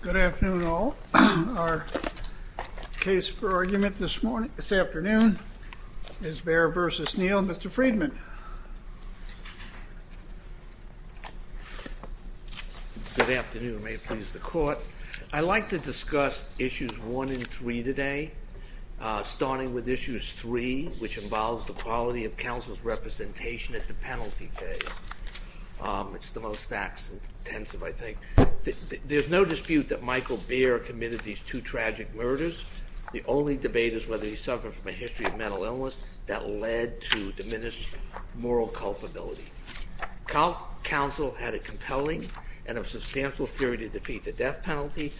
Good afternoon all. Our case for argument this afternoon is Baer v. Neal. Mr. Friedman. Good afternoon. May it please the court. I'd like to discuss issues one and three today, starting with issues three, which involves the quality of counsel's representation at the penalty day. It's the most facts-intensive, I think. There's no dispute that Michael Baer committed these two tragic murders. The only debate is whether he suffered from a history of mental illness that led to diminished moral culpability. Counsel had a compelling and a substantial theory to defeat the death penalty.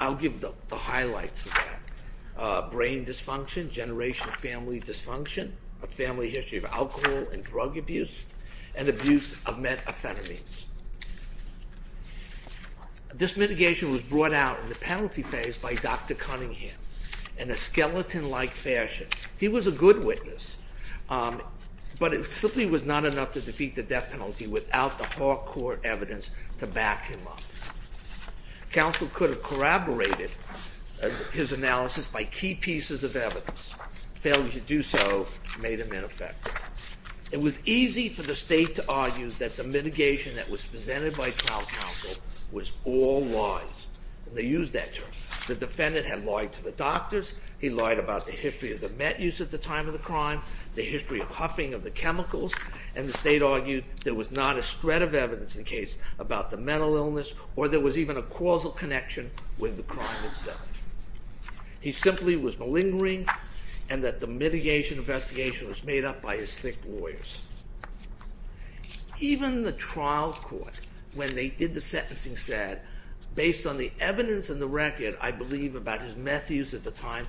I'll give the highlights of that. Brain dysfunction, generational family dysfunction, a family history of alcohol and drug abuse, and abuse of methamphetamines. This mitigation was brought out in the penalty phase by Dr. Cunningham in a skeleton-like fashion. He was a good witness, but it simply was not enough to defeat the death penalty without the hard core evidence to back him up. Counsel could have corroborated his analysis by key pieces of evidence. Failure to do so made him ineffective. It was easy for the state to argue that the mitigation that was presented by trial counsel was all lies, and they used that term. The defendant had lied to the doctors, he lied about the history of the met use at the time of the crime, the history of huffing of the chemicals, and the state argued there was not a shred of evidence in the case about the mental illness, or there was even a causal connection with the crime itself. He simply was malingering, and that the mitigation investigation was made up by his thick lawyers. Even the trial court, when they did the sentencing, said, based on the evidence and the record, I believe, about his meth use at the time,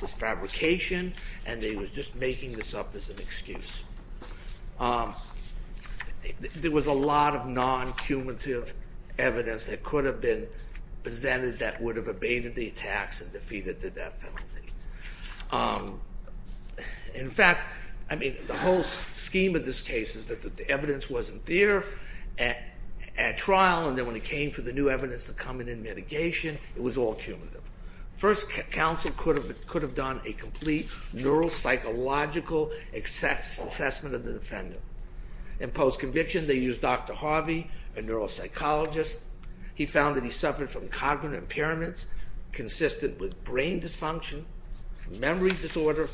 this fabrication, and they were just making this up as an excuse. There was a lot of non-cumulative evidence that could have been presented that would have abated the attacks and defeated the death penalty. In fact, I mean, the whole scheme of this case is that the evidence wasn't there at trial, and then when it came for the new evidence to come in in mitigation, it was all cumulative. First, counsel could have done a complete neuropsychological assessment of the defendant. In post-conviction, they used Dr. Harvey, a neuropsychologist. He found that he suffered from cognitive impairments consistent with brain dysfunction, memory disorder,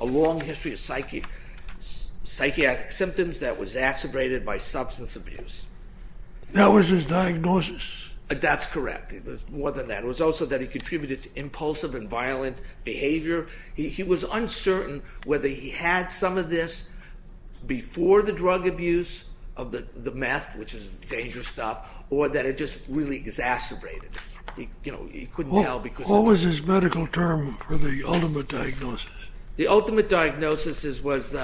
a long history of psychiatric symptoms that was exacerbated by substance abuse. That was his diagnosis? That's correct. It was more than that. It was also that he contributed to impulsive and violent behavior. He was uncertain whether he had some of this before the drug abuse of the meth, which is dangerous stuff, or that it just really exacerbated it. What was his medical term for the ultimate diagnosis? The ultimate diagnosis was,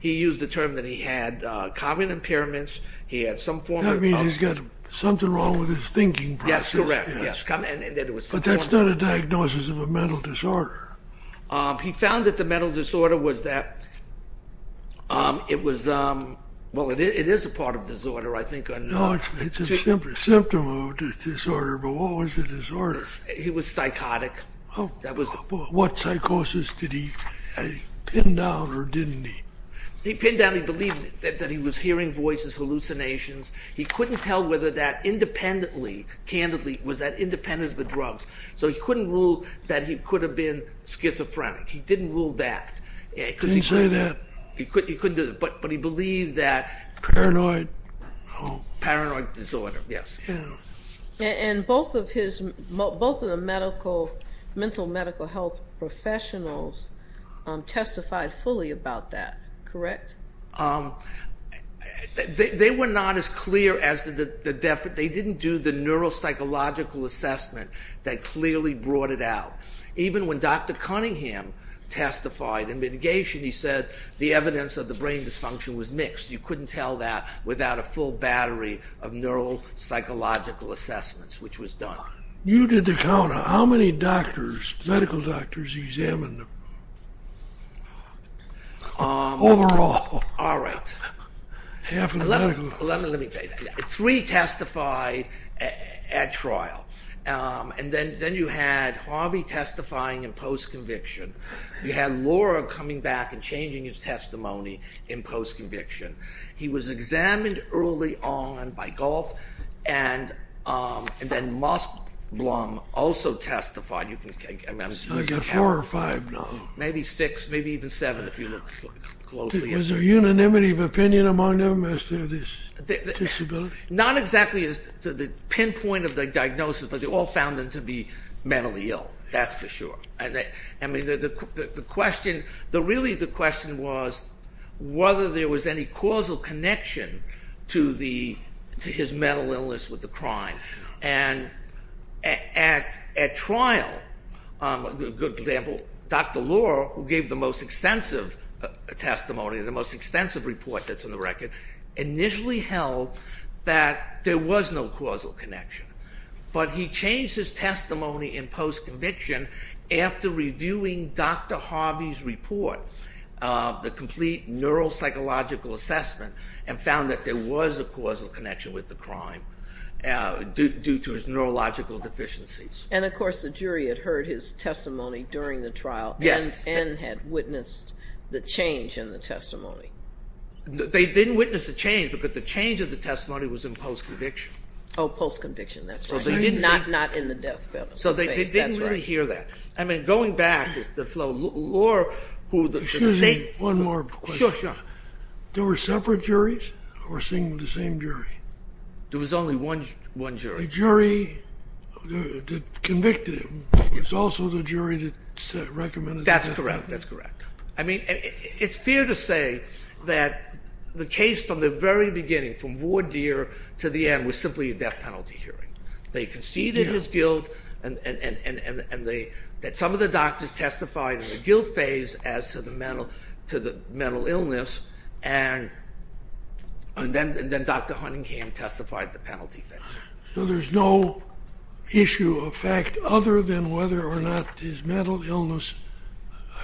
he used the term that he had cognitive impairments. That means he's got something wrong with his thinking process. Yes, correct. But that's not a diagnosis of a mental disorder. He found that the mental disorder was that it was, well, it is a part of disorder, I think. No, it's a symptom of disorder, but what was the disorder? He was psychotic. What psychosis? Did he pin down or didn't he? He pinned down, he believed that he was hearing voices, hallucinations. He couldn't tell whether that independently, candidly, was that independent of the drugs. So he couldn't rule that he could have been schizophrenic. He didn't rule that. He didn't say that? He couldn't, but he believed that. Paranoid? Paranoid disorder, yes. And both of the medical, mental medical health professionals testified fully about that, correct? They were not as clear as the, they didn't do the neuropsychological assessment that clearly brought it out. Even when Dr. Cunningham testified in mitigation, he said the evidence of the brain dysfunction was mixed. You couldn't tell that without a full battery of neuropsychological assessments, which was done. You did the count. How many doctors, medical doctors examined him? Overall? All right. Half of the medical? Three testified at trial. And then you had Harvey testifying in post-conviction. You had Laura coming back and changing his testimony in post-conviction. He was examined early on by Goff, and then Moss Blum also testified. I've got four or five now. Maybe six, maybe even seven if you look closely. Was there unanimity of opinion among them as to this disability? Not exactly as to the pinpoint of the diagnosis, but they all found him to be mentally ill. That's for sure. I mean, the question, really the question was whether there was any causal connection to his mental illness with the crime. And at trial, a good example, Dr. Lohr, who gave the most extensive testimony, the most extensive report that's in the record, initially held that there was no causal connection. But he changed his testimony in post-conviction after reviewing Dr. Harvey's report, the complete neuropsychological assessment, and found that there was a causal connection with the crime due to his neurological deficiencies. And, of course, the jury had heard his testimony during the trial and had witnessed the change in the testimony. They didn't witness the change because the change of the testimony was in post-conviction. Oh, post-conviction, that's right. Not in the death penalty case, that's right. So they didn't really hear that. I mean, going back, Lohr, who the state... Excuse me, one more question. Sure, sure. There were separate juries or seeing the same jury? There was only one jury. The jury that convicted him was also the jury that recommended... That's correct, that's correct. I mean, it's fair to say that the case from the very beginning, from voir dire to the end, was simply a death penalty hearing. They conceded his guilt, and some of the doctors testified in the guilt phase as to the mental illness, and then Dr. Huntingham testified the penalty phase. So there's no issue of fact other than whether or not his mental illness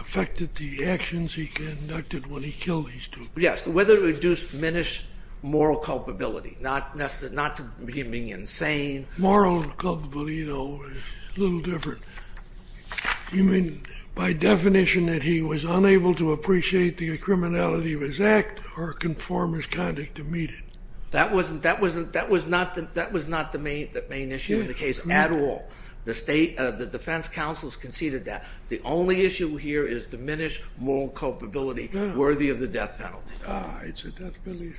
affected the actions he conducted when he killed these two people. Yes, whether it would diminish moral culpability, not to begin being insane. Moral culpability, you know, is a little different. You mean by definition that he was unable to appreciate the criminality of his act or conform his conduct to meet it? That was not the main issue of the case at all. The defense counsels conceded that. The only issue here is diminished moral culpability worthy of the death penalty. Ah, it's a death penalty.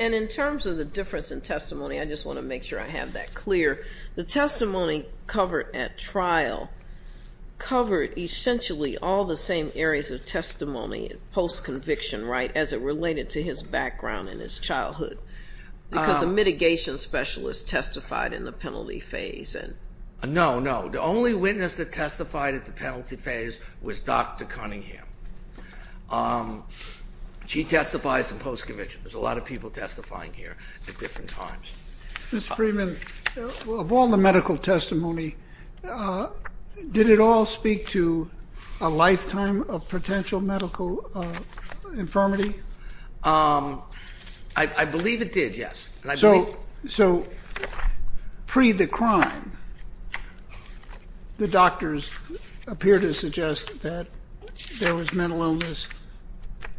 And in terms of the difference in testimony, I just want to make sure I have that clear. The testimony covered at trial covered essentially all the same areas of testimony post-conviction, right, as it related to his background and his childhood, because a mitigation specialist testified in the penalty phase. No, no. The only witness that testified at the penalty phase was Dr. Cunningham. She testifies in post-conviction. There's a lot of people testifying here at different times. Mr. Freeman, of all the medical testimony, did it all speak to a lifetime of potential medical infirmity? I believe it did, yes. So pre the crime, the doctors appear to suggest that there was mental illness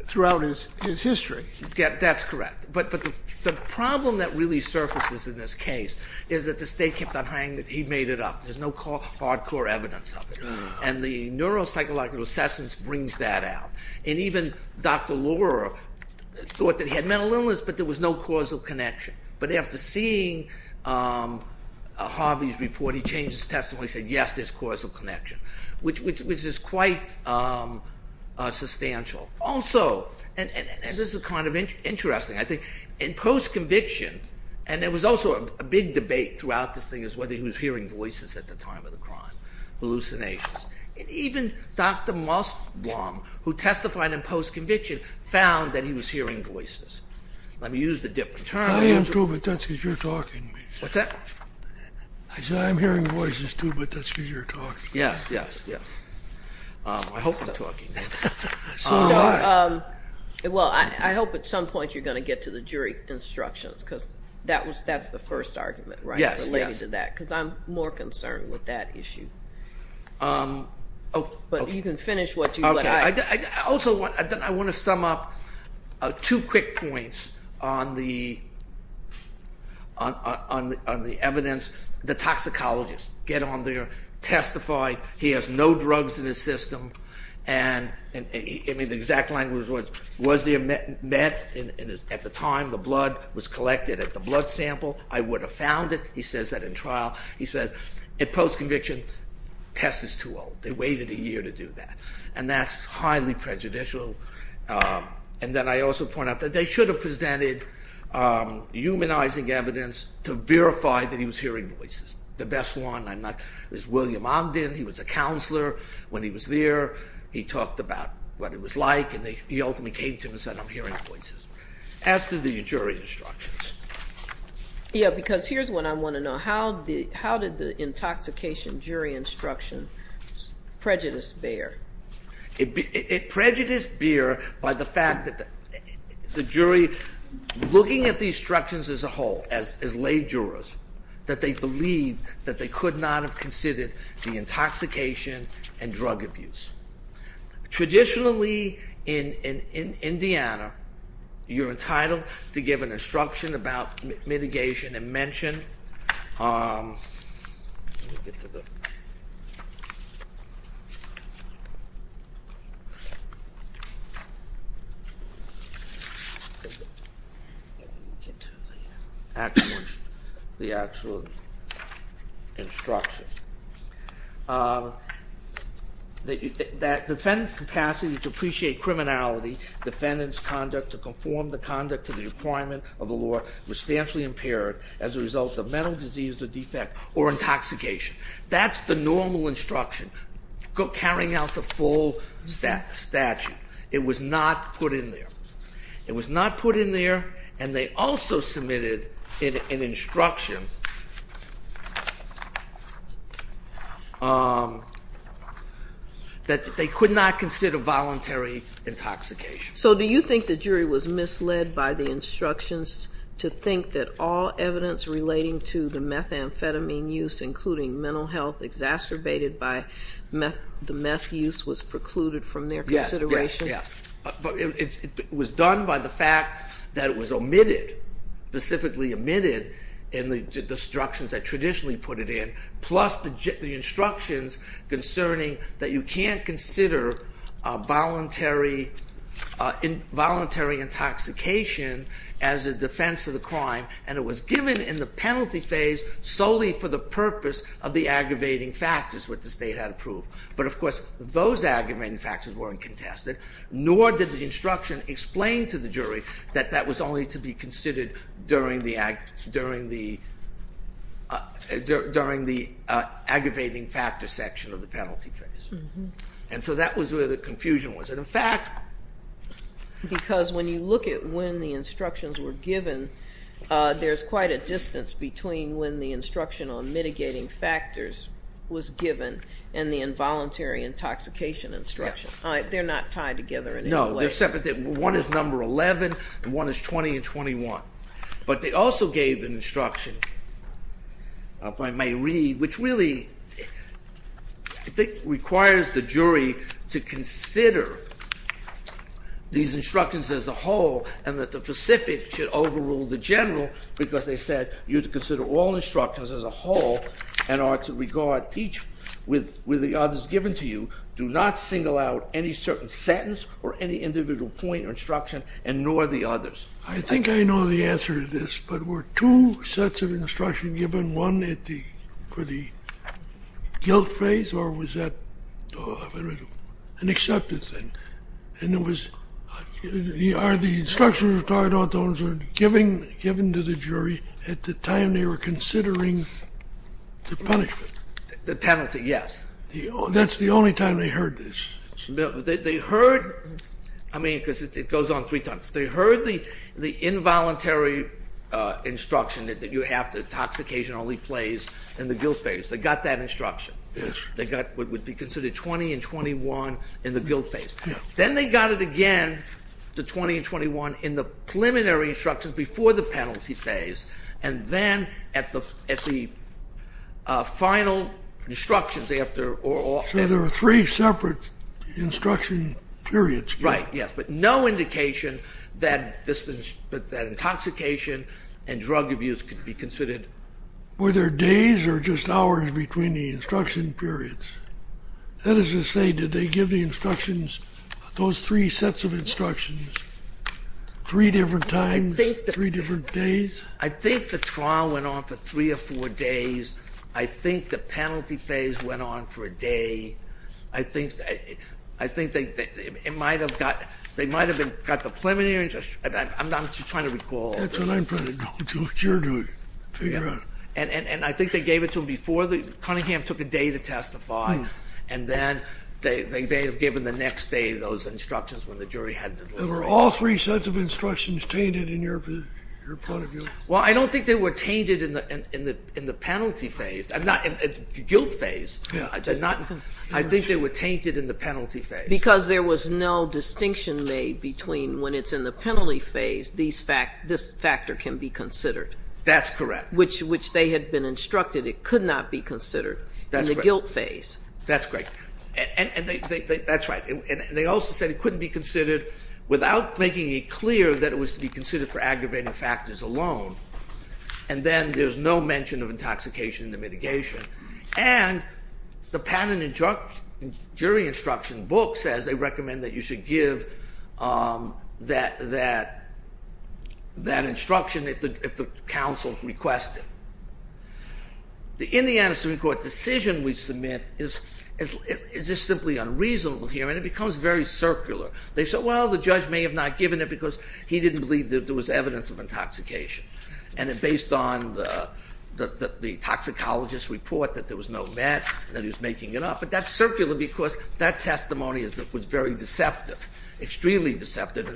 throughout his history. That's correct. But the problem that really surfaces in this case is that the state kept on saying that he made it up. There's no hard core evidence of it. And the neuropsychological assessments brings that out. And even Dr. Laura thought that he had mental illness, but there was no causal connection. But after seeing Harvey's report, he changed his testimony and said, yes, there's causal connection, which is quite substantial. Also, and this is kind of interesting, I think, in post-conviction, and there was also a big debate throughout this thing as to whether he was hearing voices at the time of the crime, hallucinations. Even Dr. Mossblum, who testified in post-conviction, found that he was hearing voices. Let me use a different term. I am too, but that's because you're talking to me. What's that? I said I'm hearing voices too, but that's because you're talking to me. Yes, yes, yes. I hope I'm talking. Well, I hope at some point you're going to get to the jury instructions because that's the first argument related to that. Yes, yes. Because I'm more concerned with that issue. Okay. But you can finish what you've got. Also, I want to sum up two quick points on the evidence. The toxicologist, get on there, testify. He has no drugs in his system. And the exact language was, was there meth at the time the blood was collected at the blood sample? I would have found it. He says that in trial. He says in post-conviction, test is too old. They waited a year to do that. And that's highly prejudicial. And then I also point out that they should have presented humanizing evidence to verify that he was hearing voices. The best one is William Ogden. He was a counselor when he was there. He talked about what it was like, and he ultimately came to him and said, I'm hearing voices. As to the jury instructions. Yeah, because here's what I want to know. How did the intoxication jury instruction prejudice bear? It prejudice bear by the fact that the jury, looking at the instructions as a whole, as lay jurors, that they believed that they could not have considered the intoxication and drug abuse. Traditionally in Indiana, you're entitled to give an instruction about mitigation and mention. The actual instruction. That defendant's capacity to appreciate criminality, defendant's conduct to conform the conduct to the requirement of the law, was substantially impaired as a result of mental disease or defect or intoxication. That's the normal instruction, carrying out the full statute. It was not put in there. It was not put in there, and they also submitted an instruction. That they could not consider voluntary intoxication. So do you think the jury was misled by the instructions to think that all evidence relating to the methamphetamine use, including mental health exacerbated by the meth use, was precluded from their consideration? Yes, yes, yes. It was done by the fact that it was omitted, specifically omitted in the instructions that traditionally put it in. Plus the instructions concerning that you can't consider voluntary intoxication as a defense of the crime. And it was given in the penalty phase solely for the purpose of the aggravating factors, which the state had approved. But of course, those aggravating factors weren't contested, nor did the instruction explain to the jury that that was only to be considered during the aggravating factor section of the penalty phase. And so that was where the confusion was. And in fact, because when you look at when the instructions were given, there's quite a distance between when the instruction on mitigating factors was given and the involuntary intoxication instruction. They're not tied together in any way. They're separate. One is number 11, and one is 20 and 21. But they also gave an instruction, if I may read, which really I think requires the jury to consider these instructions as a whole and that the Pacific should overrule the General because they said you're to consider all instructions as a whole and ought to regard each with the others given to you. Do not single out any certain sentence or any individual point or instruction and nor the others. I think I know the answer to this, but were two sets of instructions given, one for the guilt phase or was that an accepted thing? And it was, are the instructions given to the jury at the time they were considering the punishment? The penalty, yes. That's the only time they heard this. They heard, I mean, because it goes on three times. They heard the involuntary instruction that you have to intoxication only plays in the guilt phase. They got that instruction. Yes. They got what would be considered 20 and 21 in the guilt phase. Then they got it again, the 20 and 21, in the preliminary instructions before the penalty phase, and then at the final instructions after. So there were three separate instruction periods. Right, yes, but no indication that intoxication and drug abuse could be considered. Were there days or just hours between the instruction periods? That is to say, did they give the instructions, those three sets of instructions, three different times, three different days? I think the trial went on for three or four days. I think the penalty phase went on for a day. I think they might have got the preliminary instruction. I'm just trying to recall. That's what I'm trying to do, what you're doing, figure out. And I think they gave it to them before the, Cunningham took a day to testify, and then they may have given the next day those instructions when the jury had to leave. Were all three sets of instructions tainted in your point of view? Well, I don't think they were tainted in the penalty phase, not in the guilt phase. I think they were tainted in the penalty phase. Because there was no distinction made between when it's in the penalty phase, this factor can be considered. That's correct. Which they had been instructed it could not be considered in the guilt phase. That's correct. That's right. And they also said it couldn't be considered without making it clear that it was to be considered for aggravating factors alone. And then there's no mention of intoxication in the mitigation. And the patent and jury instruction book says they recommend that you should give that instruction if the counsel requests it. The Indiana Supreme Court decision we submit is just simply unreasonable here, and it becomes very circular. They said, well, the judge may have not given it because he didn't believe that there was evidence of intoxication. And it based on the toxicologist's report that there was no med, that he was making it up. But that's circular because that testimony was very deceptive, extremely deceptive,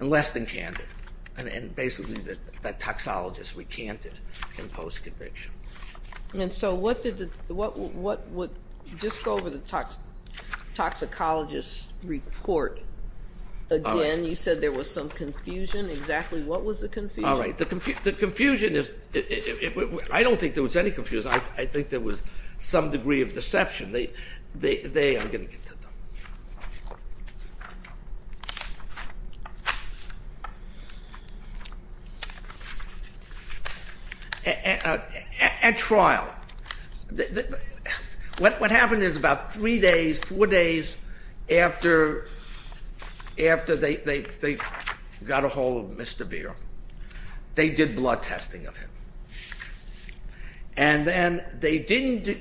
and less than candid. And basically, that toxicologist recanted in post-conviction. And so what did the, what would, just go over the toxicologist's report again. You said there was some confusion. Exactly what was the confusion? All right. The confusion is, I don't think there was any confusion. I think there was some degree of deception. They, I'm going to get to them. At trial, what happened is about three days, four days after they got a hold of Mr. Beer, they did blood testing of him. And then they didn't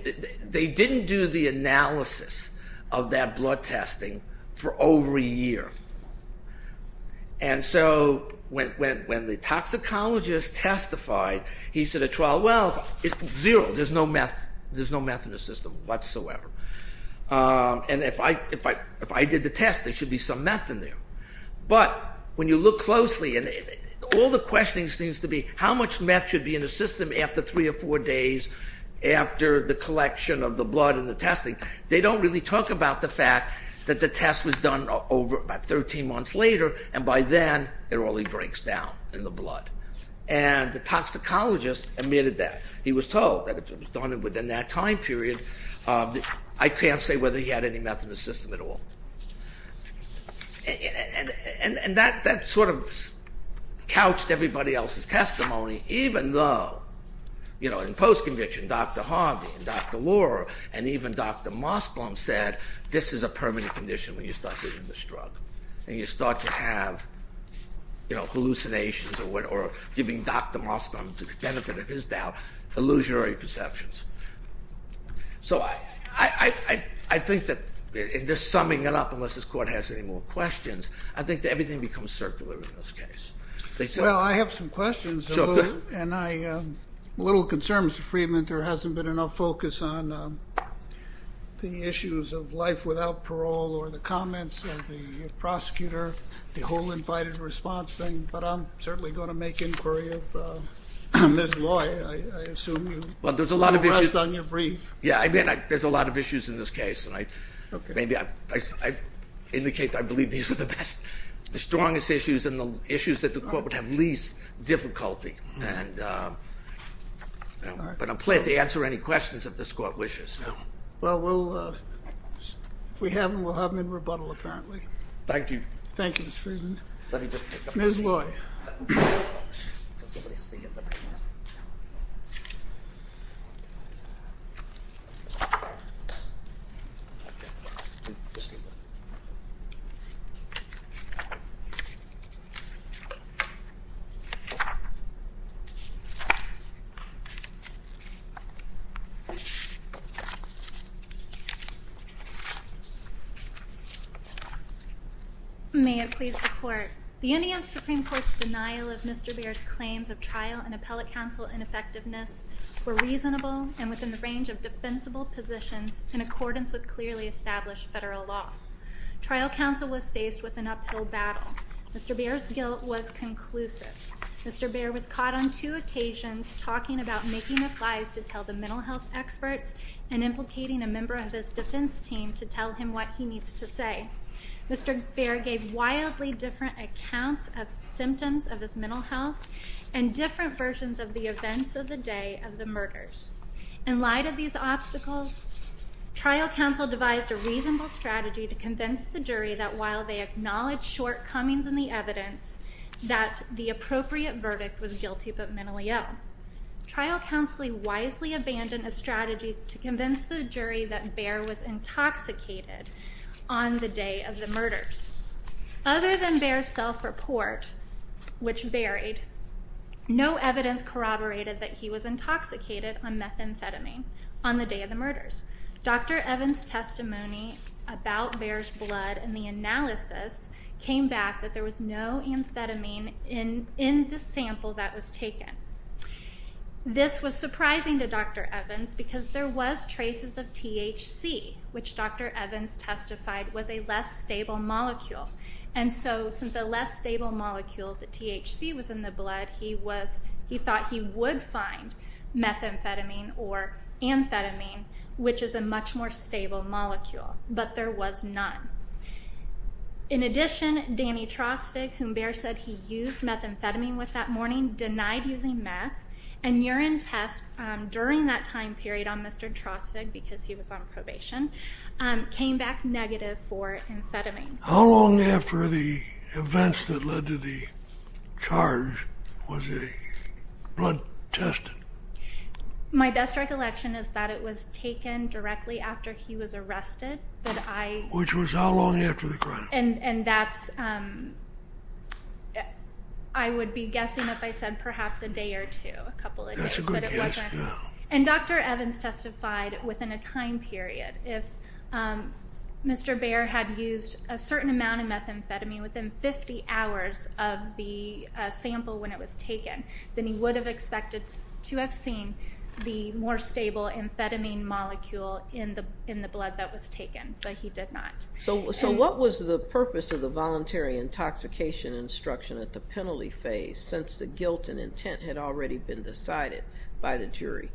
do the analysis of that blood testing for over a year. And so when the toxicologist testified, he said at trial, well, it's zero. There's no meth, there's no meth in the system whatsoever. And if I did the test, there should be some meth in there. But when you look closely, and all the questioning seems to be how much meth should be in the system after three or four days and they don't really talk about the fact that the test was done over about 13 months later and by then it only breaks down in the blood. And the toxicologist admitted that. He was told that it was done within that time period. I can't say whether he had any meth in the system at all. And that sort of couched everybody else's testimony, even though, you know, in post-conviction, Dr. Harvey and Dr. Lohr and even Dr. Mossblum said this is a permanent condition when you start using this drug. And you start to have, you know, hallucinations or giving Dr. Mossblum, to the benefit of his doubt, illusionary perceptions. So I think that in just summing it up, unless this Court has any more questions, I think that everything becomes circular in this case. Well, I have some questions, and I'm a little concerned, Mr. Freedman, that there hasn't been enough focus on the issues of life without parole or the comments of the prosecutor, the whole invited response thing. But I'm certainly going to make inquiry of Ms. Lohr. I assume you will rest on your brief. Yeah, I mean, there's a lot of issues in this case. And maybe I indicate that I believe these were the best, the strongest issues and the issues that the Court would have least difficulty. But I'm pleased to answer any questions if this Court wishes. Well, if we haven't, we'll have them in rebuttal, apparently. Thank you. Thank you, Mr. Freedman. Ms. Lohr. Ms. Lohr. May it please the Court. The Union Supreme Court's denial of Mr. Beer's claims of trial and appellate counsel ineffectiveness were reasonable and within the range of defensible positions in accordance with clearly established federal law. Trial counsel was faced with an uphill battle. Mr. Beer's guilt was conclusive. Mr. Beer was caught on two occasions talking about making advice to tell the mental health experts and implicating a member of his defense team to tell him what he needs to say. Mr. Beer gave wildly different accounts of symptoms of his mental health and different versions of the events of the day of the murders. In light of these obstacles, trial counsel devised a reasonable strategy to convince the jury that while they acknowledged shortcomings in the evidence, that the appropriate verdict was guilty but mentally ill. Trial counsel wisely abandoned a strategy to convince the jury that Beer was intoxicated on the day of the murders. Other than Beer's self-report, which varied, no evidence corroborated that he was intoxicated on methamphetamine on the day of the murders. Dr. Evans' testimony about Beer's blood and the analysis came back that there was no amphetamine in the sample that was taken. This was surprising to Dr. Evans because there was traces of THC, which Dr. Evans testified was a less stable molecule. And so since a less stable molecule, the THC, was in the blood, he thought he would find methamphetamine or amphetamine, which is a much more stable molecule. But there was none. In addition, Danny Trosvig, whom Beer said he used methamphetamine with that morning, denied using meth and urine tests during that time period on Mr. Trosvig because he was on probation, came back negative for amphetamine. How long after the events that led to the charge was the blood tested? My best recollection is that it was taken directly after he was arrested. Which was how long after the crime? And that's, I would be guessing if I said perhaps a day or two, a couple of days. That's a good guess, yeah. And Dr. Evans testified within a time period. If Mr. Beer had used a certain amount of methamphetamine within 50 hours of the sample when it was taken, then he would have expected to have seen the more stable amphetamine molecule in the blood that was taken, but he did not. So what was the purpose of the voluntary intoxication instruction at the penalty phase since the guilt and intent had already been decided by the jury?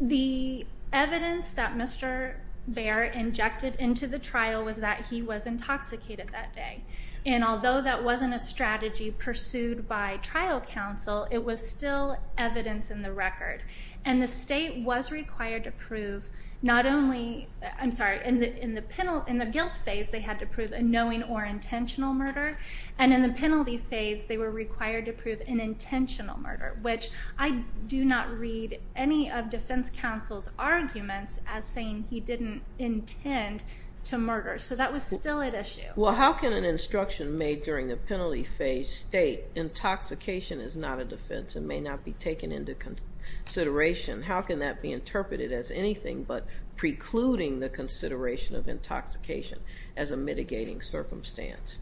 The evidence that Mr. Beer injected into the trial was that he was intoxicated that day. And although that wasn't a strategy pursued by trial counsel, it was still evidence in the record. And the state was required to prove not only, I'm sorry, in the guilt phase they had to prove a knowing or intentional murder, and in the penalty phase they were required to prove an intentional murder, which I do not read any of defense counsel's arguments as saying he didn't intend to murder. So that was still at issue. Well, how can an instruction made during the penalty phase state, intoxication is not a defense and may not be taken into consideration? How can that be interpreted as anything but precluding the consideration of intoxication as a mitigating circumstance?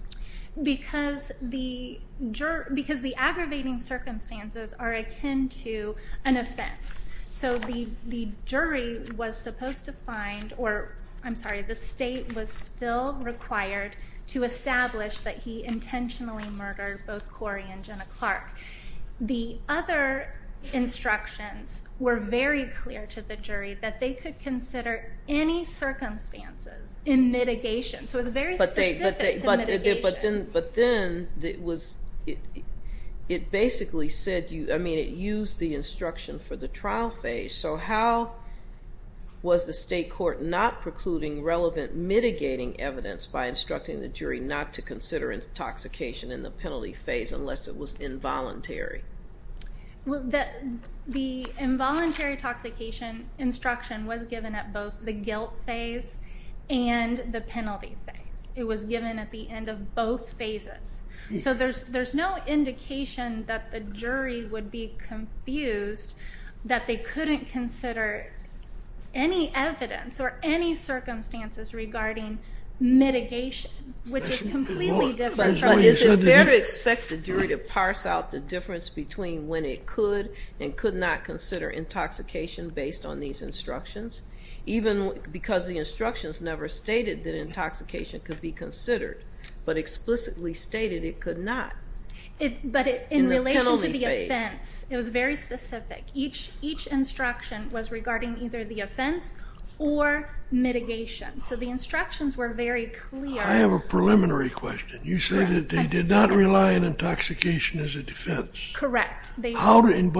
Because the aggravating circumstances are akin to an offense. So the jury was supposed to find, or I'm sorry, the state was still required to establish that he intentionally murdered both Corey and Jenna Clark. that they could consider any circumstances in mitigation. So it was very specific to mitigation. But then it basically said, I mean, it used the instruction for the trial phase. So how was the state court not precluding relevant mitigating evidence by instructing the jury not to consider intoxication in the penalty phase unless it was involuntary? The involuntary intoxication instruction was given at both the guilt phase and the penalty phase. It was given at the end of both phases. So there's no indication that the jury would be confused that they couldn't consider any evidence or any circumstances regarding mitigation, which is completely different. But is it fair to expect the jury to parse out the difference between when it could and could not consider intoxication based on these instructions? Even because the instructions never stated that intoxication could be considered, but explicitly stated it could not. But in relation to the offense, it was very specific. Each instruction was regarding either the offense or mitigation. So the instructions were very clear. I have a preliminary question. You said that they did not rely on intoxication as a defense. Correct. But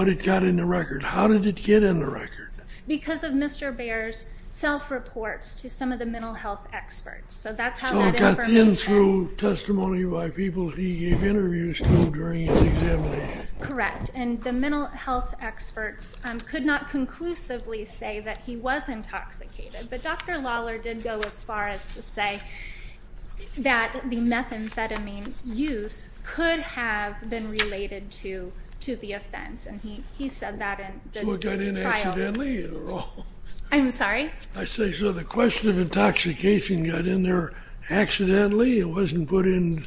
it got in the record. How did it get in the record? Because of Mr. Baer's self-reports to some of the mental health experts. So it got in through testimony by people he gave interviews to during his examination. Correct. And the mental health experts could not conclusively say that he was intoxicated. But Dr. Lawler did go as far as to say that the methamphetamine use could have been related to the offense. And he said that in the trial. So it got in accidentally? I'm sorry? I say, so the question of intoxication got in there accidentally? It wasn't put in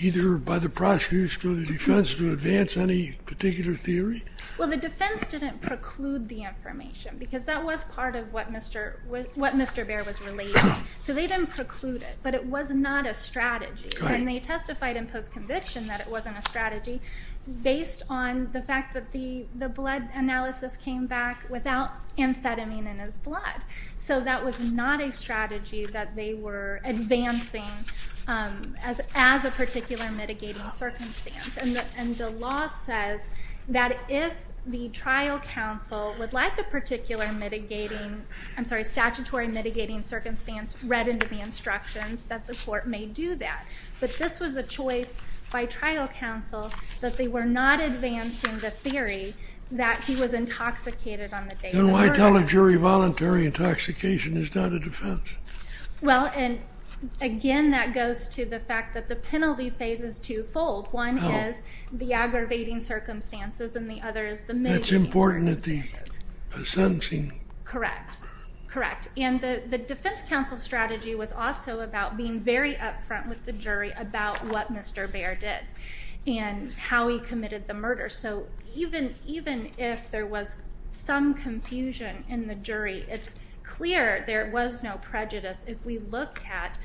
either by the prosecutors or the defense to advance any particular theory? Well, the defense didn't preclude the information because that was part of what Mr. Baer was relating. So they didn't preclude it, but it was not a strategy. And they testified in post-conviction that it wasn't a strategy based on the fact that the blood analysis came back without amphetamine in his blood. So that was not a strategy that they were advancing as a particular mitigating circumstance. And the law says that if the trial counsel would like a particular mitigating, I'm sorry, statutory mitigating circumstance read into the instructions, that the court may do that. But this was a choice by trial counsel that they were not advancing the theory that he was intoxicated on the day of the murder. Then why tell a jury voluntary intoxication is not a defense? Well, again, that goes to the fact that the penalty phase is twofold. One is the aggravating circumstances, and the other is the mitigating circumstances. That's important at the sentencing. Correct, correct. And the defense counsel strategy was also about being very up front with the jury about what Mr. Baer did and how he committed the murder. So even if there was some confusion in the jury, it's clear there was no prejudice. If we look at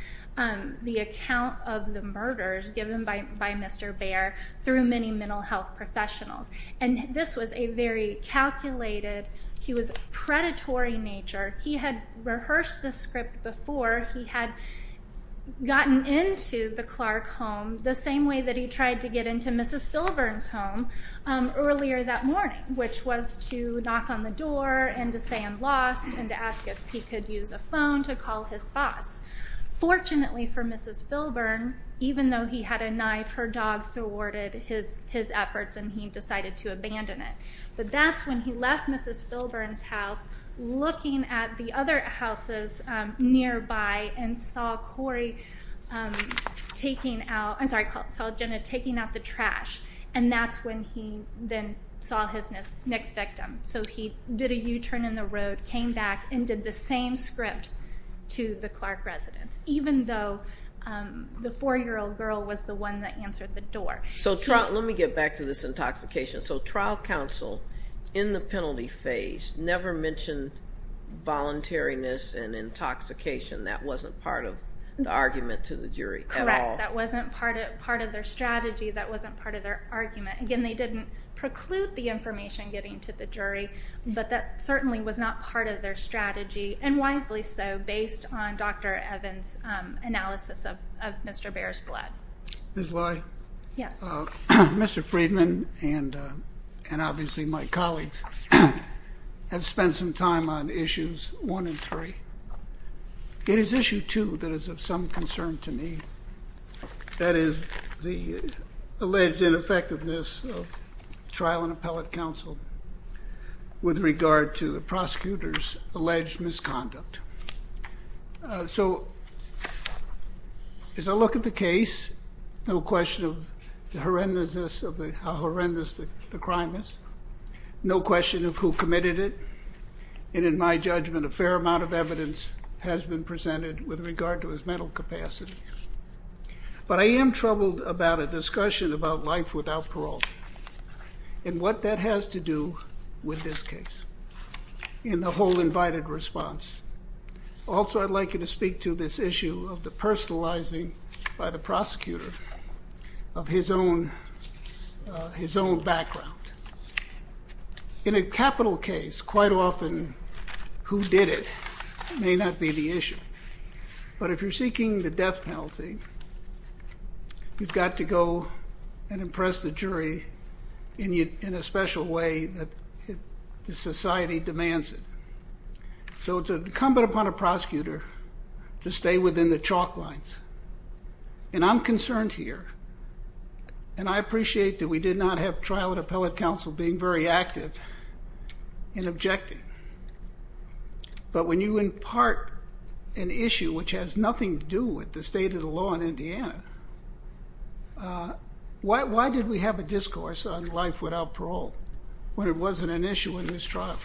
the account of the murders given by Mr. Baer through many mental health professionals, and this was a very calculated, he was predatory nature. He had rehearsed this script before. He had gotten into the Clark home the same way that he tried to get into Mrs. Filburn's home earlier that morning, which was to knock on the door and to say I'm lost and to ask if he could use a phone to call his boss. Fortunately for Mrs. Filburn, even though he had a knife, her dog thwarted his efforts, and he decided to abandon it. But that's when he left Mrs. Filburn's house looking at the other houses nearby and saw Jenna taking out the trash, and that's when he then saw his next victim. So he did a U-turn in the road, came back, and did the same script to the Clark residence, even though the 4-year-old girl was the one that answered the door. So let me get back to this intoxication. So trial counsel in the penalty phase never mentioned voluntariness and intoxication. That wasn't part of the argument to the jury at all. Correct. That wasn't part of their strategy. That wasn't part of their argument. Again, they didn't preclude the information getting to the jury, but that certainly was not part of their strategy, and wisely so, based on Dr. Evans' analysis of Mr. Baer's blood. Ms. Lai? Yes. Mr. Friedman and obviously my colleagues have spent some time on Issues 1 and 3. It is Issue 2 that is of some concern to me. That is the alleged ineffectiveness of trial and appellate counsel with regard to the prosecutor's alleged misconduct. So as I look at the case, no question of the horrendousness of how horrendous the crime is, no question of who committed it, and in my judgment, a fair amount of evidence has been presented with regard to his mental capacity. But I am troubled about a discussion about life without parole and what that has to do with this case and the whole invited response. Also, I'd like you to speak to this issue of the personalizing by the prosecutor of his own background. In a capital case, quite often who did it may not be the issue. But if you're seeking the death penalty, you've got to go and impress the jury in a special way that the society demands it. So it's incumbent upon a prosecutor to stay within the chalk lines. And I'm concerned here, and I appreciate that we did not have trial and appellate counsel being very active and objective, but when you impart an issue which has nothing to do with the state of the law in Indiana, why did we have a discourse on life without parole when it wasn't an issue in this trial?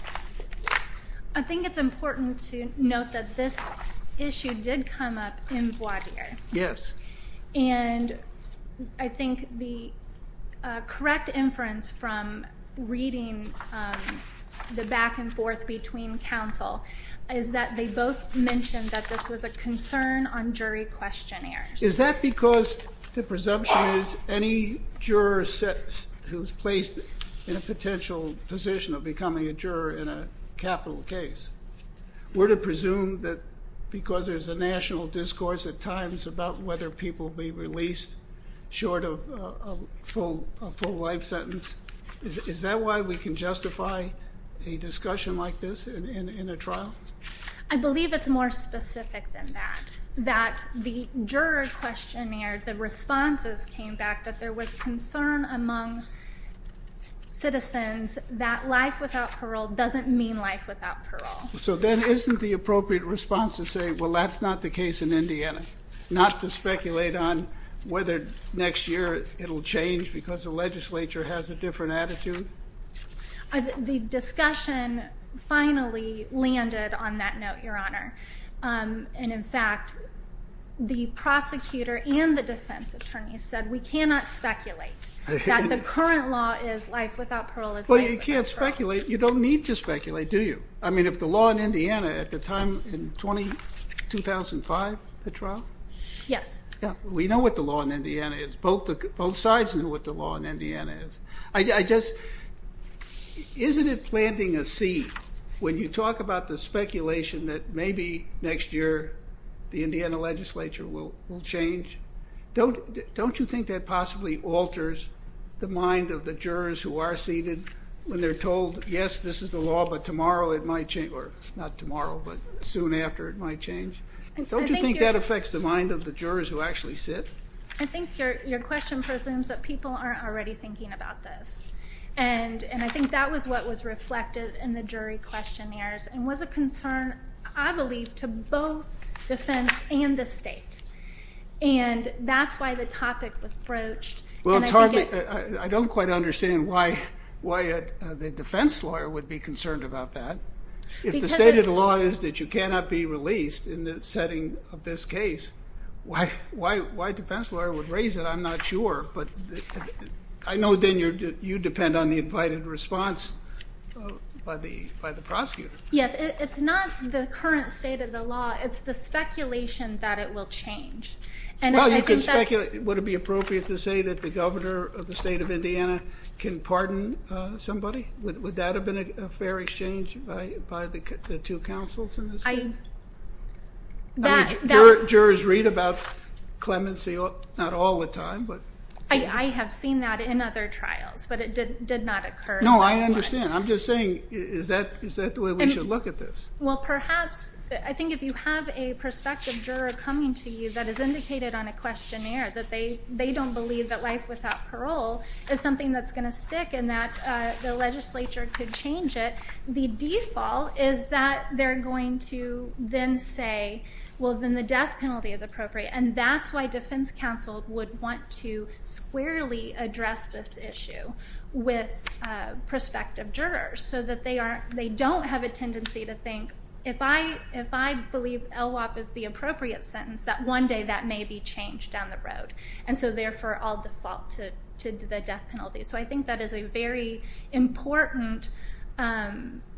I think it's important to note that this issue did come up in voir dire. Yes. And I think the correct inference from reading the back and forth between counsel is that they both mentioned that this was a concern on jury questionnaires. Is that because the presumption is any juror who's placed in a potential position of becoming a juror in a capital case, we're to presume that because there's a national discourse at times about whether people be released short of a full life sentence, is that why we can justify a discussion like this in a trial? I believe it's more specific than that, that the juror questionnaire, the responses came back that there was concern among citizens that life without parole doesn't mean life without parole. So then isn't the appropriate response to say, well, that's not the case in Indiana, not to speculate on whether next year it'll change because the legislature has a different attitude? The discussion finally landed on that note, Your Honor. And, in fact, the prosecutor and the defense attorney said we cannot speculate, that the current law is life without parole is life without parole. Well, you can't speculate. You don't need to speculate, do you? I mean, if the law in Indiana at the time in 2005, the trial? Yes. We know what the law in Indiana is. Both sides know what the law in Indiana is. Isn't it planting a seed when you talk about the speculation that maybe next year the Indiana legislature will change? Don't you think that possibly alters the mind of the jurors who are seated when they're told, yes, this is the law, but tomorrow it might change, or not tomorrow, but soon after it might change? Don't you think that affects the mind of the jurors who actually sit? I think your question presumes that people aren't already thinking about this, and I think that was what was reflected in the jury questionnaires and was a concern, I believe, to both defense and the state, and that's why the topic was broached. Well, it's hard. I don't quite understand why the defense lawyer would be concerned about that. If the state of the law is that you cannot be released in the setting of this case, why a defense lawyer would raise it, I'm not sure, but I know, then, you depend on the invited response by the prosecutor. Yes. It's not the current state of the law. It's the speculation that it will change. Well, you could speculate. Would it be appropriate to say that the governor of the state of Indiana can pardon somebody? Would that have been a fair exchange by the two counsels in this case? Jurors read about clemency not all the time. I have seen that in other trials, but it did not occur in this one. No, I understand. I'm just saying, is that the way we should look at this? Well, perhaps. I think if you have a prospective juror coming to you that has indicated on a questionnaire that they don't believe that life without parole is something that's going to stick and that the legislature could change it, the default is that they're going to then say, well, then the death penalty is appropriate. And that's why defense counsel would want to squarely address this issue with prospective jurors so that they don't have a tendency to think, if I believe LWOP is the appropriate sentence, that one day that may be changed down the road. And so, therefore, I'll default to the death penalty. So I think that is a very important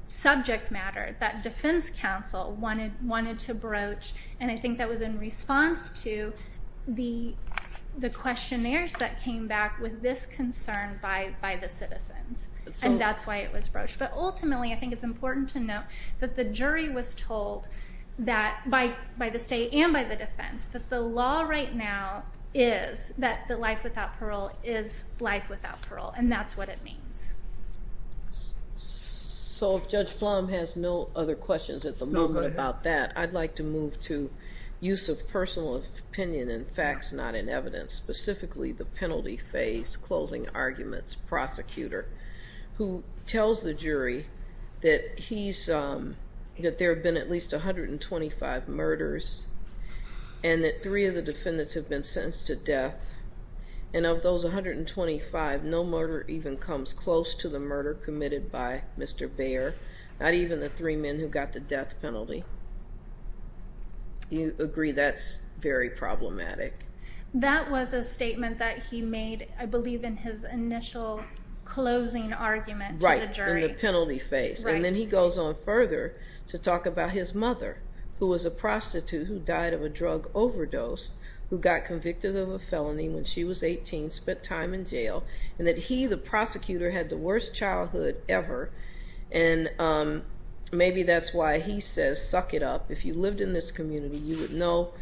subject matter that defense counsel wanted to broach, and I think that was in response to the questionnaires that came back with this concern by the citizens. And that's why it was broached. But ultimately, I think it's important to note that the jury was told by the state and by the defense that the law right now is that life without parole is life without parole, and that's what it means. So if Judge Flom has no other questions at the moment about that, I'd like to move to use of personal opinion and facts not in evidence, specifically the penalty phase, closing arguments, prosecutor, who tells the jury that there have been at least 125 murders and that three of the defendants have been sentenced to death. And of those 125, no murder even comes close to the murder committed by Mr. Baer, not even the three men who got the death penalty. Do you agree that's very problematic? That was a statement that he made, I believe, in his initial closing argument to the jury. Right, in the penalty phase. And then he goes on further to talk about his mother, who was a prostitute who died of a drug overdose, who got convicted of a felony when she was 18, spent time in jail, and that he, the prosecutor, had the worst childhood ever. And maybe that's why he says, suck it up. If you lived in this community, you would know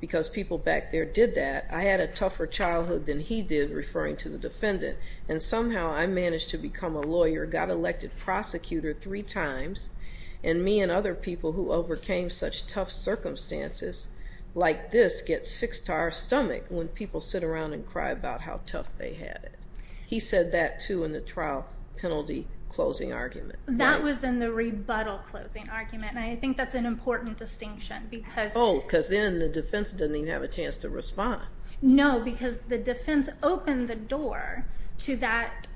because people back there did that. I had a tougher childhood than he did, referring to the defendant, and somehow I managed to become a lawyer, got elected prosecutor three times, and me and other people who overcame such tough circumstances like this get six to our stomach when people sit around and cry about how tough they had it. He said that, too, in the trial penalty closing argument. That was in the rebuttal closing argument, and I think that's an important distinction. Oh, because then the defense doesn't even have a chance to respond. No, because the defense opened the door to that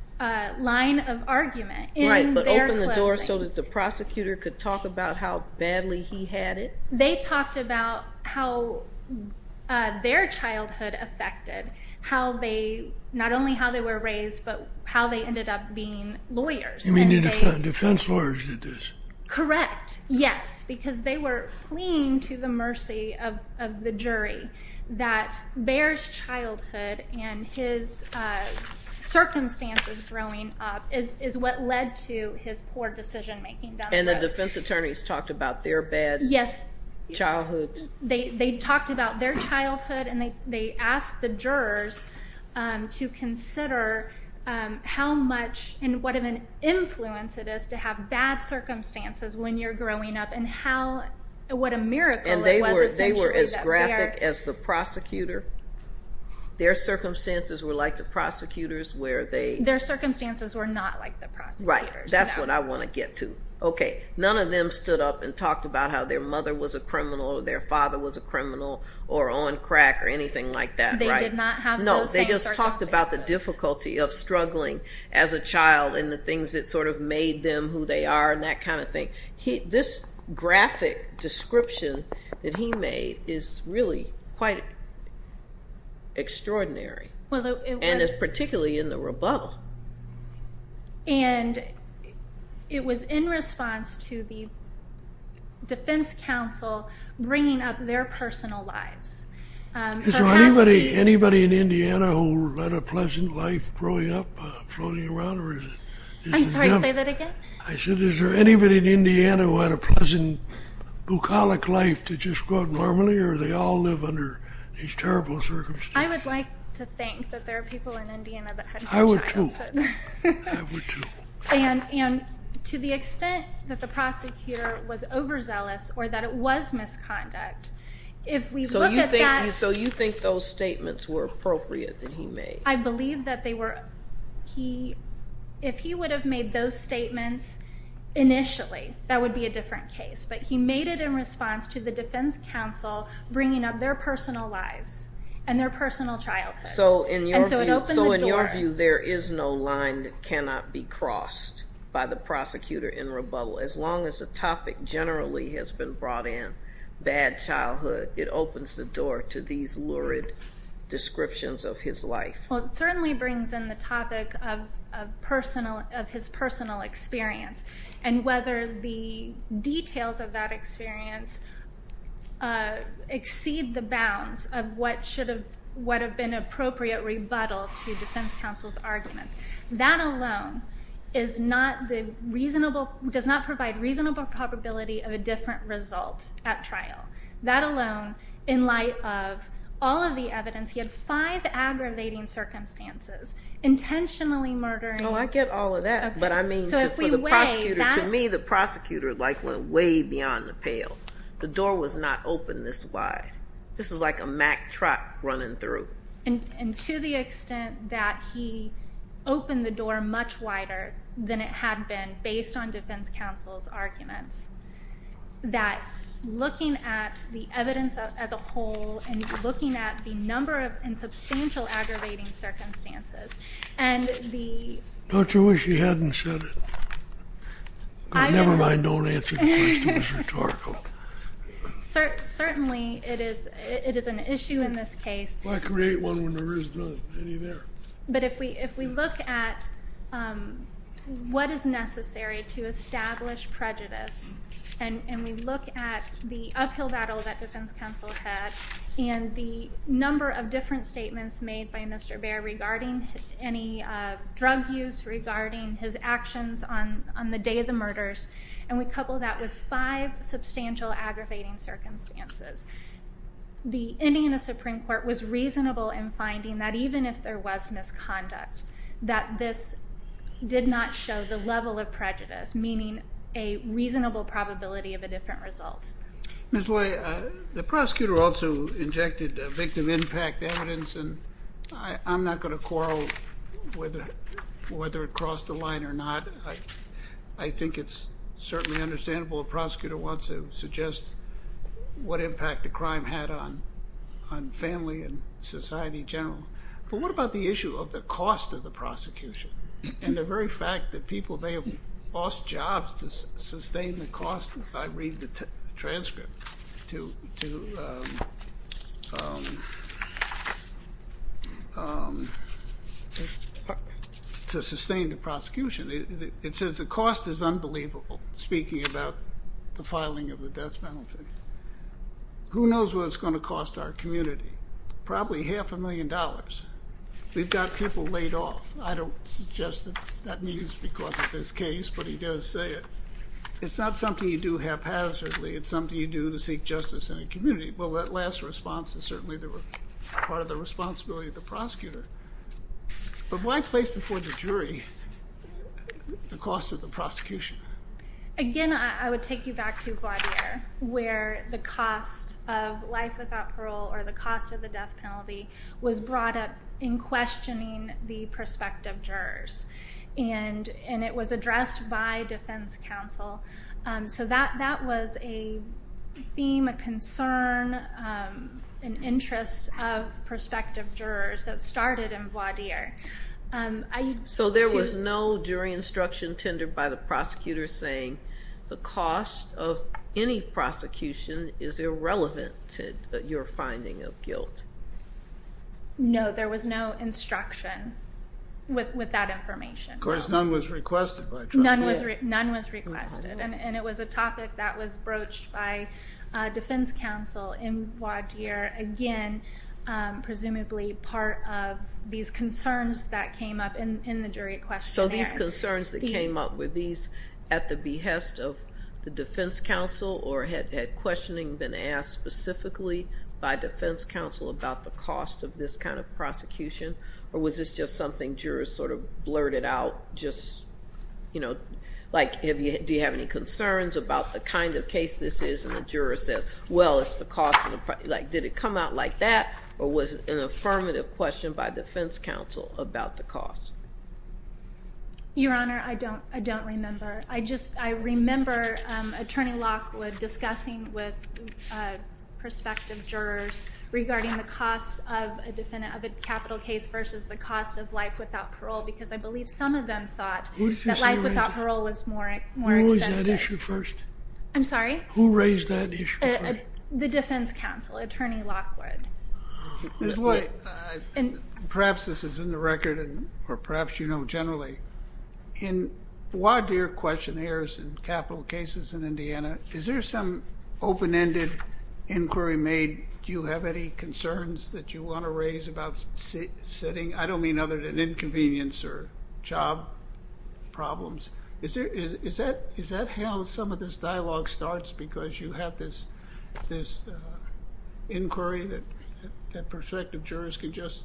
line of argument. Right, but opened the door so that the prosecutor could talk about how badly he had it. They talked about how their childhood affected how they, not only how they were raised, but how they ended up being lawyers. You mean the defense lawyers did this? Correct, yes, because they were pleading to the mercy of the jury that Bayer's childhood and his circumstances growing up is what led to his poor decision-making. And the defense attorneys talked about their bad childhood. They talked about their childhood, and they asked the jurors to consider how much and what of an influence it is to have bad circumstances when you're growing up and what a miracle it was essentially that they are. And they were as graphic as the prosecutor? Their circumstances were like the prosecutor's where they... Their circumstances were not like the prosecutor's. Right, that's what I want to get to. Okay, none of them stood up and talked about how their mother was a criminal or their father was a criminal or on crack or anything like that, right? They did not have those same circumstances. They talked about the difficulty of struggling as a child and the things that sort of made them who they are and that kind of thing. This graphic description that he made is really quite extraordinary and is particularly in the rebuttal. And it was in response to the defense counsel bringing up their personal lives. Is there anybody in Indiana who led a pleasant life growing up floating around? I'm sorry, say that again? I said is there anybody in Indiana who had a pleasant bucolic life to just grow up normally or do they all live under these terrible circumstances? I would like to think that there are people in Indiana that had a good childhood. I would too. And to the extent that the prosecutor was overzealous or that it was misconduct, if we look at that. So you think those statements were appropriate that he made? I believe that they were. If he would have made those statements initially, that would be a different case. But he made it in response to the defense counsel bringing up their personal lives and their personal childhood. So in your view, there is no line that cannot be crossed by the prosecutor in rebuttal as long as the topic generally has been brought in, bad childhood. It opens the door to these lurid descriptions of his life. Well, it certainly brings in the topic of his personal experience and whether the details of that experience exceed the bounds of what should have been an appropriate rebuttal to defense counsel's arguments. That alone does not provide reasonable probability of a different result at trial. That alone, in light of all of the evidence, he had five aggravating circumstances, intentionally murdering. Oh, I get all of that. To me, the prosecutor went way beyond the pale. The door was not open this wide. This was like a Mack truck running through. And to the extent that he opened the door much wider than it had been based on defense counsel's arguments, that looking at the evidence as a whole and looking at the number and substantial aggravating circumstances and the... Don't you wish he hadn't said it? Never mind, don't answer the question. It's rhetorical. Certainly, it is an issue in this case. Why create one when there isn't any there? But if we look at what is necessary to establish prejudice and we look at the uphill battle that defense counsel had and the number of different statements made by Mr. Bair regarding any drug use, regarding his actions on the day of the murders, and we couple that with five substantial aggravating circumstances, ending in a Supreme Court was reasonable in finding that even if there was misconduct, that this did not show the level of prejudice, meaning a reasonable probability of a different result. Ms. Loy, the prosecutor also injected victim impact evidence, and I'm not going to quarrel whether it crossed the line or not. I think it's certainly understandable. A prosecutor wants to suggest what impact the crime had on family and society in general. But what about the issue of the cost of the prosecution and the very fact that people may have lost jobs to sustain the cost, as I read the transcript, to sustain the prosecution? It says the cost is unbelievable, speaking about the filing of the death penalty. Who knows what it's going to cost our community? Probably half a million dollars. We've got people laid off. I don't suggest that that means because of this case, but he does say it. It's not something you do haphazardly. It's something you do to seek justice in a community. Well, that last response is certainly part of the responsibility of the prosecutor. But why place before the jury the cost of the prosecution? Again, I would take you back to Gladier, where the cost of life without parole or the cost of the death penalty was brought up in questioning the prospective jurors, and it was addressed by defense counsel. So that was a theme, a concern, an interest of prospective jurors that started in Gladier. So there was no jury instruction tendered by the prosecutor saying the cost of any prosecution is irrelevant to your finding of guilt? No, there was no instruction with that information. Of course, none was requested by Trump. None was requested, and it was a topic that was broached by defense counsel in Gladier, again, presumably part of these concerns that came up in the jury questionnaires. So these concerns that came up, were these at the behest of the defense counsel or had questioning been asked specifically by defense counsel about the cost of this kind of prosecution? Or was this just something jurors sort of blurted out just, you know, like do you have any concerns about the kind of case this is? And the juror says, well, it's the cost of the prosecution. Like did it come out like that, or was it an affirmative question by defense counsel about the cost? Your Honor, I don't remember. I remember Attorney Lockwood discussing with prospective jurors regarding the cost of a capital case versus the cost of life without parole because I believe some of them thought that life without parole was more expensive. Who raised that issue first? I'm sorry? Who raised that issue first? The defense counsel, Attorney Lockwood. Ms. White, perhaps this is in the record or perhaps you know generally. In Gladier questionnaires and capital cases in Indiana, is there some open-ended inquiry made? Do you have any concerns that you want to raise about sitting? I don't mean other than inconvenience or job problems. Is that how some of this dialogue starts because you have this inquiry that prospective jurors can just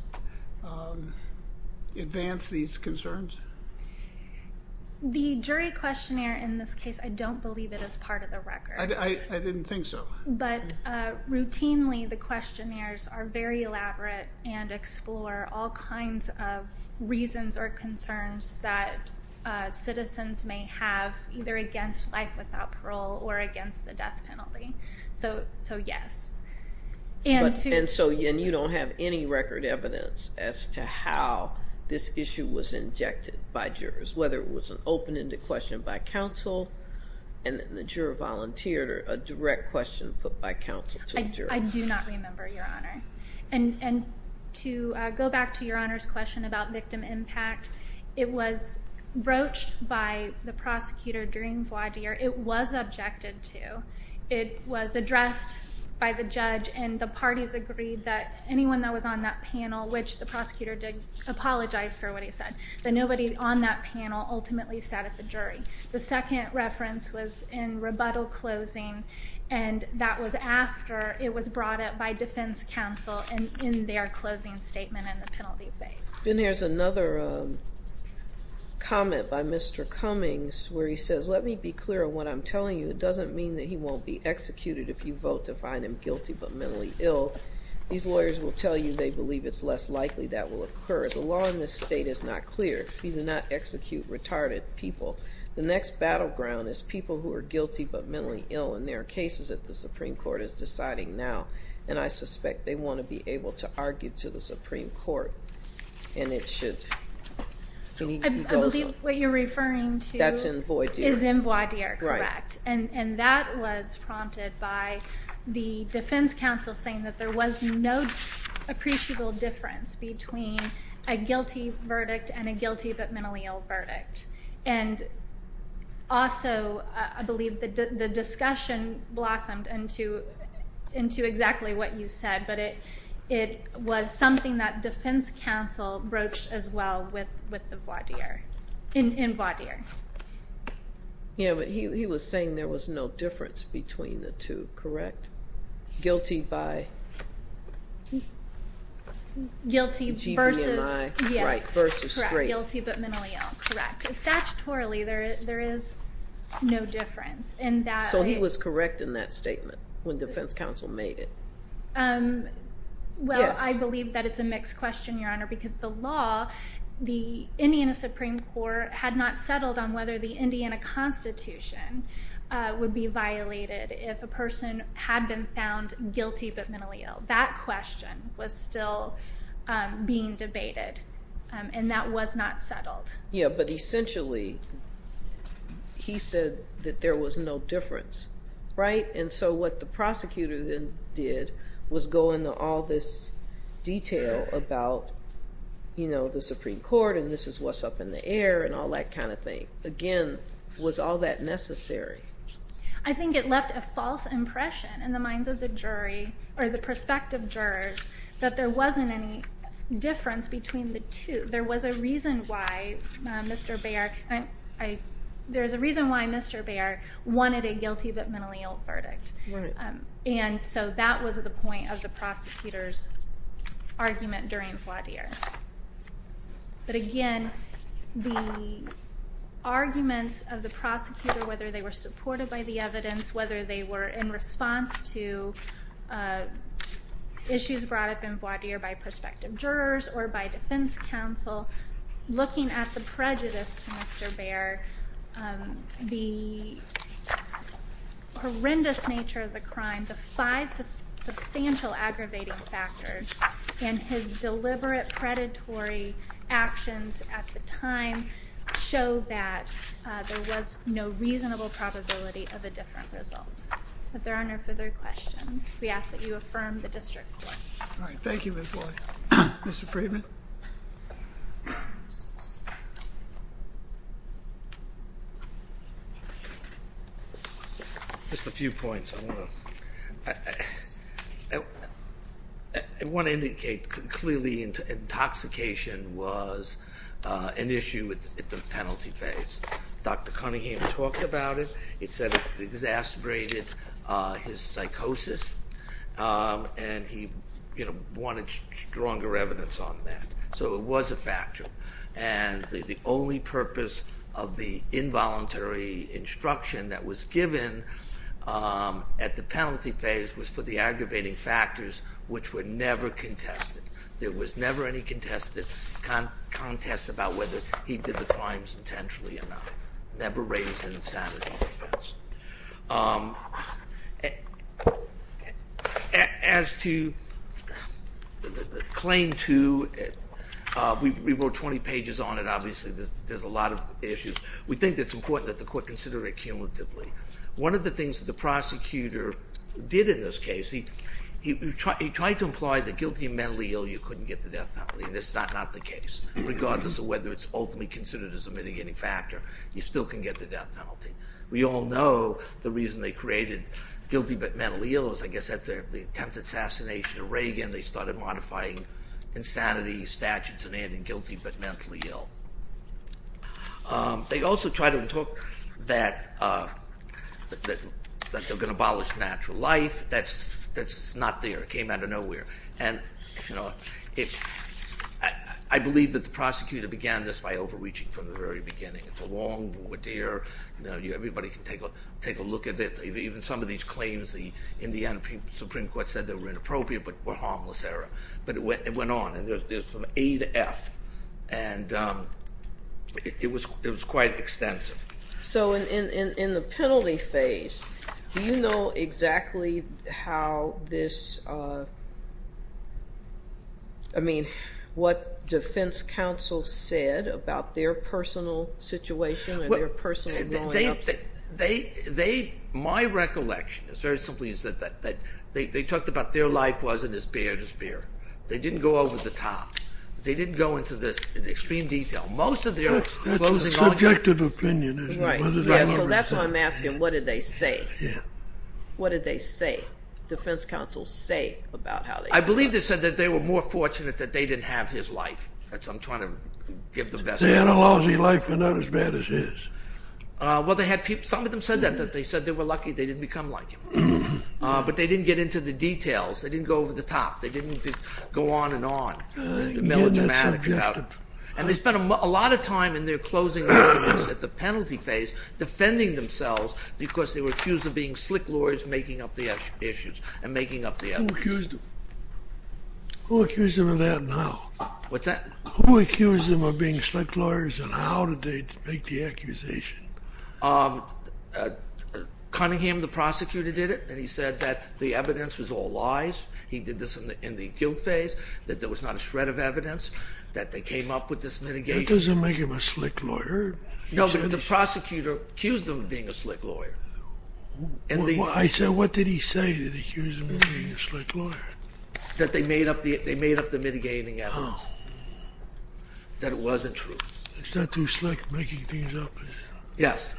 advance these concerns? The jury questionnaire in this case, I don't believe it is part of the record. I didn't think so. But routinely the questionnaires are very elaborate and explore all kinds of reasons or concerns that citizens may have either against life without parole or against the death penalty. So, yes. And you don't have any record evidence as to how this issue was injected by jurors, whether it was an open-ended question by counsel and the juror volunteered or a direct question put by counsel to the juror. I do not remember, Your Honor. And to go back to Your Honor's question about victim impact, it was broached by the prosecutor during Gladier. It was objected to. It was addressed by the judge and the parties agreed that anyone that was on that panel, which the prosecutor did apologize for what he said, that nobody on that panel ultimately sat at the jury. The second reference was in rebuttal closing, and that was after it was brought up by defense counsel in their closing statement in the penalty phase. Then there's another comment by Mr. Cummings where he says, Let me be clear on what I'm telling you. It doesn't mean that he won't be executed if you vote to find him guilty but mentally ill. These lawyers will tell you they believe it's less likely that will occur. The law in this state is not clear. He did not execute retarded people. The next battleground is people who are guilty but mentally ill, and there are cases that the Supreme Court is deciding now, and I suspect they want to be able to argue to the Supreme Court, and it should. I believe what you're referring to is in Voidier, correct? Right. And that was prompted by the defense counsel saying that there was no appreciable difference between a guilty verdict and a guilty but mentally ill verdict. And also, I believe the discussion blossomed into exactly what you said, but it was something that defense counsel broached as well with the Voidier. In Voidier. Yeah, but he was saying there was no difference between the two, correct? Guilty by? Guilty versus. G-V-I, right, versus straight. Guilty but mentally ill, correct. Statutorily, there is no difference. So he was correct in that statement when defense counsel made it? Well, I believe that it's a mixed question, Your Honor, because the law, the Indiana Supreme Court had not settled on whether the Indiana Constitution would be violated if a person had been found guilty but mentally ill. That question was still being debated, and that was not settled. Yeah, but essentially he said that there was no difference, right? And so what the prosecutor then did was go into all this detail about, you know, the Supreme Court and this is what's up in the air and all that kind of thing. Again, was all that necessary? I think it left a false impression in the minds of the jury or the prospective jurors that there wasn't any difference between the two. There was a reason why Mr. Baer wanted a guilty but mentally ill verdict. Right. And so that was the point of the prosecutor's argument during Voidier. But again, the arguments of the prosecutor, whether they were supported by the evidence, whether they were in response to issues brought up in Voidier by prospective jurors or by defense counsel, looking at the prejudice to Mr. Baer, the horrendous nature of the crime, the five substantial aggravating factors, and his deliberate predatory actions at the time show that there was no reasonable probability of a different result. But there are no further questions. We ask that you affirm the district court. All right. Thank you, Ms. Lloyd. Mr. Friedman? Just a few points. I want to indicate clearly intoxication was an issue at the penalty phase. Dr. Cunningham talked about it. He said it exacerbated his psychosis, and he wanted stronger evidence on that. So it was a factor. And the only purpose of the involuntary instruction that was given at the penalty phase was for the aggravating factors, which were never contested. There was never any contest about whether he did the crimes intentionally or not. Never raised an insanity defense. As to claim two, we wrote 20 pages on it. Obviously, there's a lot of issues. We think it's important that the court consider it cumulatively. One of the things that the prosecutor did in this case, he tried to imply that guilty and mentally ill, you couldn't get the death penalty. And that's not the case. Regardless of whether it's ultimately considered as a mitigating factor, you still can get the death penalty. We all know the reason they created guilty but mentally ill is, I guess, the attempted assassination of Reagan. They started modifying insanity statutes and adding guilty but mentally ill. They also tried to talk that they're going to abolish natural life. That's not there. It came out of nowhere. And I believe that the prosecutor began this by overreaching from the very beginning. Everybody can take a look at it. Even some of these claims, in the end, the Supreme Court said they were inappropriate but were harmless error. But it went on. And there's from A to F. And it was quite extensive. So in the penalty phase, do you know exactly how this, I mean, what defense counsel said about their personal situation and their personal growing up? My recollection is very simply that they talked about their life wasn't as bad as theirs. They didn't go over the top. They didn't go into this in extreme detail. That's a subjective opinion. Right. So that's why I'm asking, what did they say? What did they say? Defense counsel say about how they... I believe they said that they were more fortunate that they didn't have his life. That's what I'm trying to give the best... They had a lousy life but not as bad as his. Well, some of them said that. They said they were lucky they didn't become like him. But they didn't get into the details. They didn't go over the top. They didn't go on and on. And they spent a lot of time in their closing arguments at the penalty phase defending themselves because they were accused of being slick lawyers making up the issues and making up the evidence. Who accused them? Who accused them of that and how? What's that? Who accused them of being slick lawyers and how did they make the accusation? Cunningham, the prosecutor, did it, and he said that the evidence was all lies. He did this in the guilt phase, that there was not a shred of evidence, that they came up with this mitigation. That doesn't make him a slick lawyer. No, but the prosecutor accused them of being a slick lawyer. I said what did he say that accused him of being a slick lawyer? That they made up the mitigating evidence. That it wasn't true. It's not too slick making things up, is it? Yes.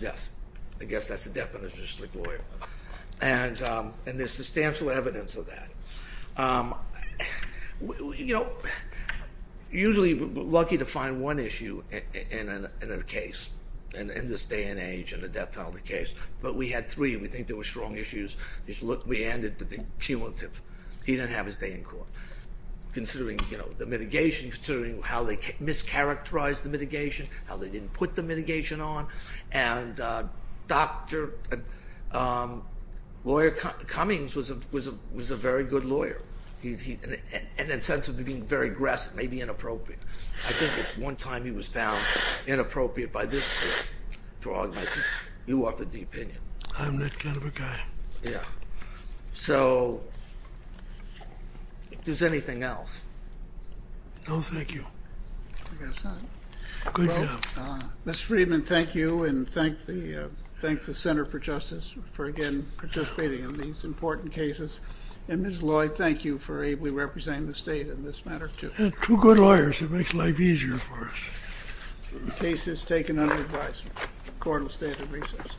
Yes. I guess that's the definition of a slick lawyer. And there's substantial evidence of that. Usually, we're lucky to find one issue in a case, in this day and age, in a death penalty case, but we had three and we think they were strong issues. We ended with the cumulative. He didn't have his day in court. Considering the mitigation, considering how they mischaracterized the mitigation, how they didn't put the mitigation on, and Dr. Lawyer Cummings was a very good lawyer. In the sense of being very aggressive, maybe inappropriate. I think it's one time he was found inappropriate by this court. You offered the opinion. I'm that kind of a guy. Yeah. So, is there anything else? No, thank you. I guess not. Good job. Mr. Friedman, thank you, and thank the Center for Justice for, again, participating in these important cases. And, Ms. Lloyd, thank you for ably representing the state in this matter, too. Two good lawyers. It makes life easier for us. The case is taken under advisement. The court will stand at recess. Thank you.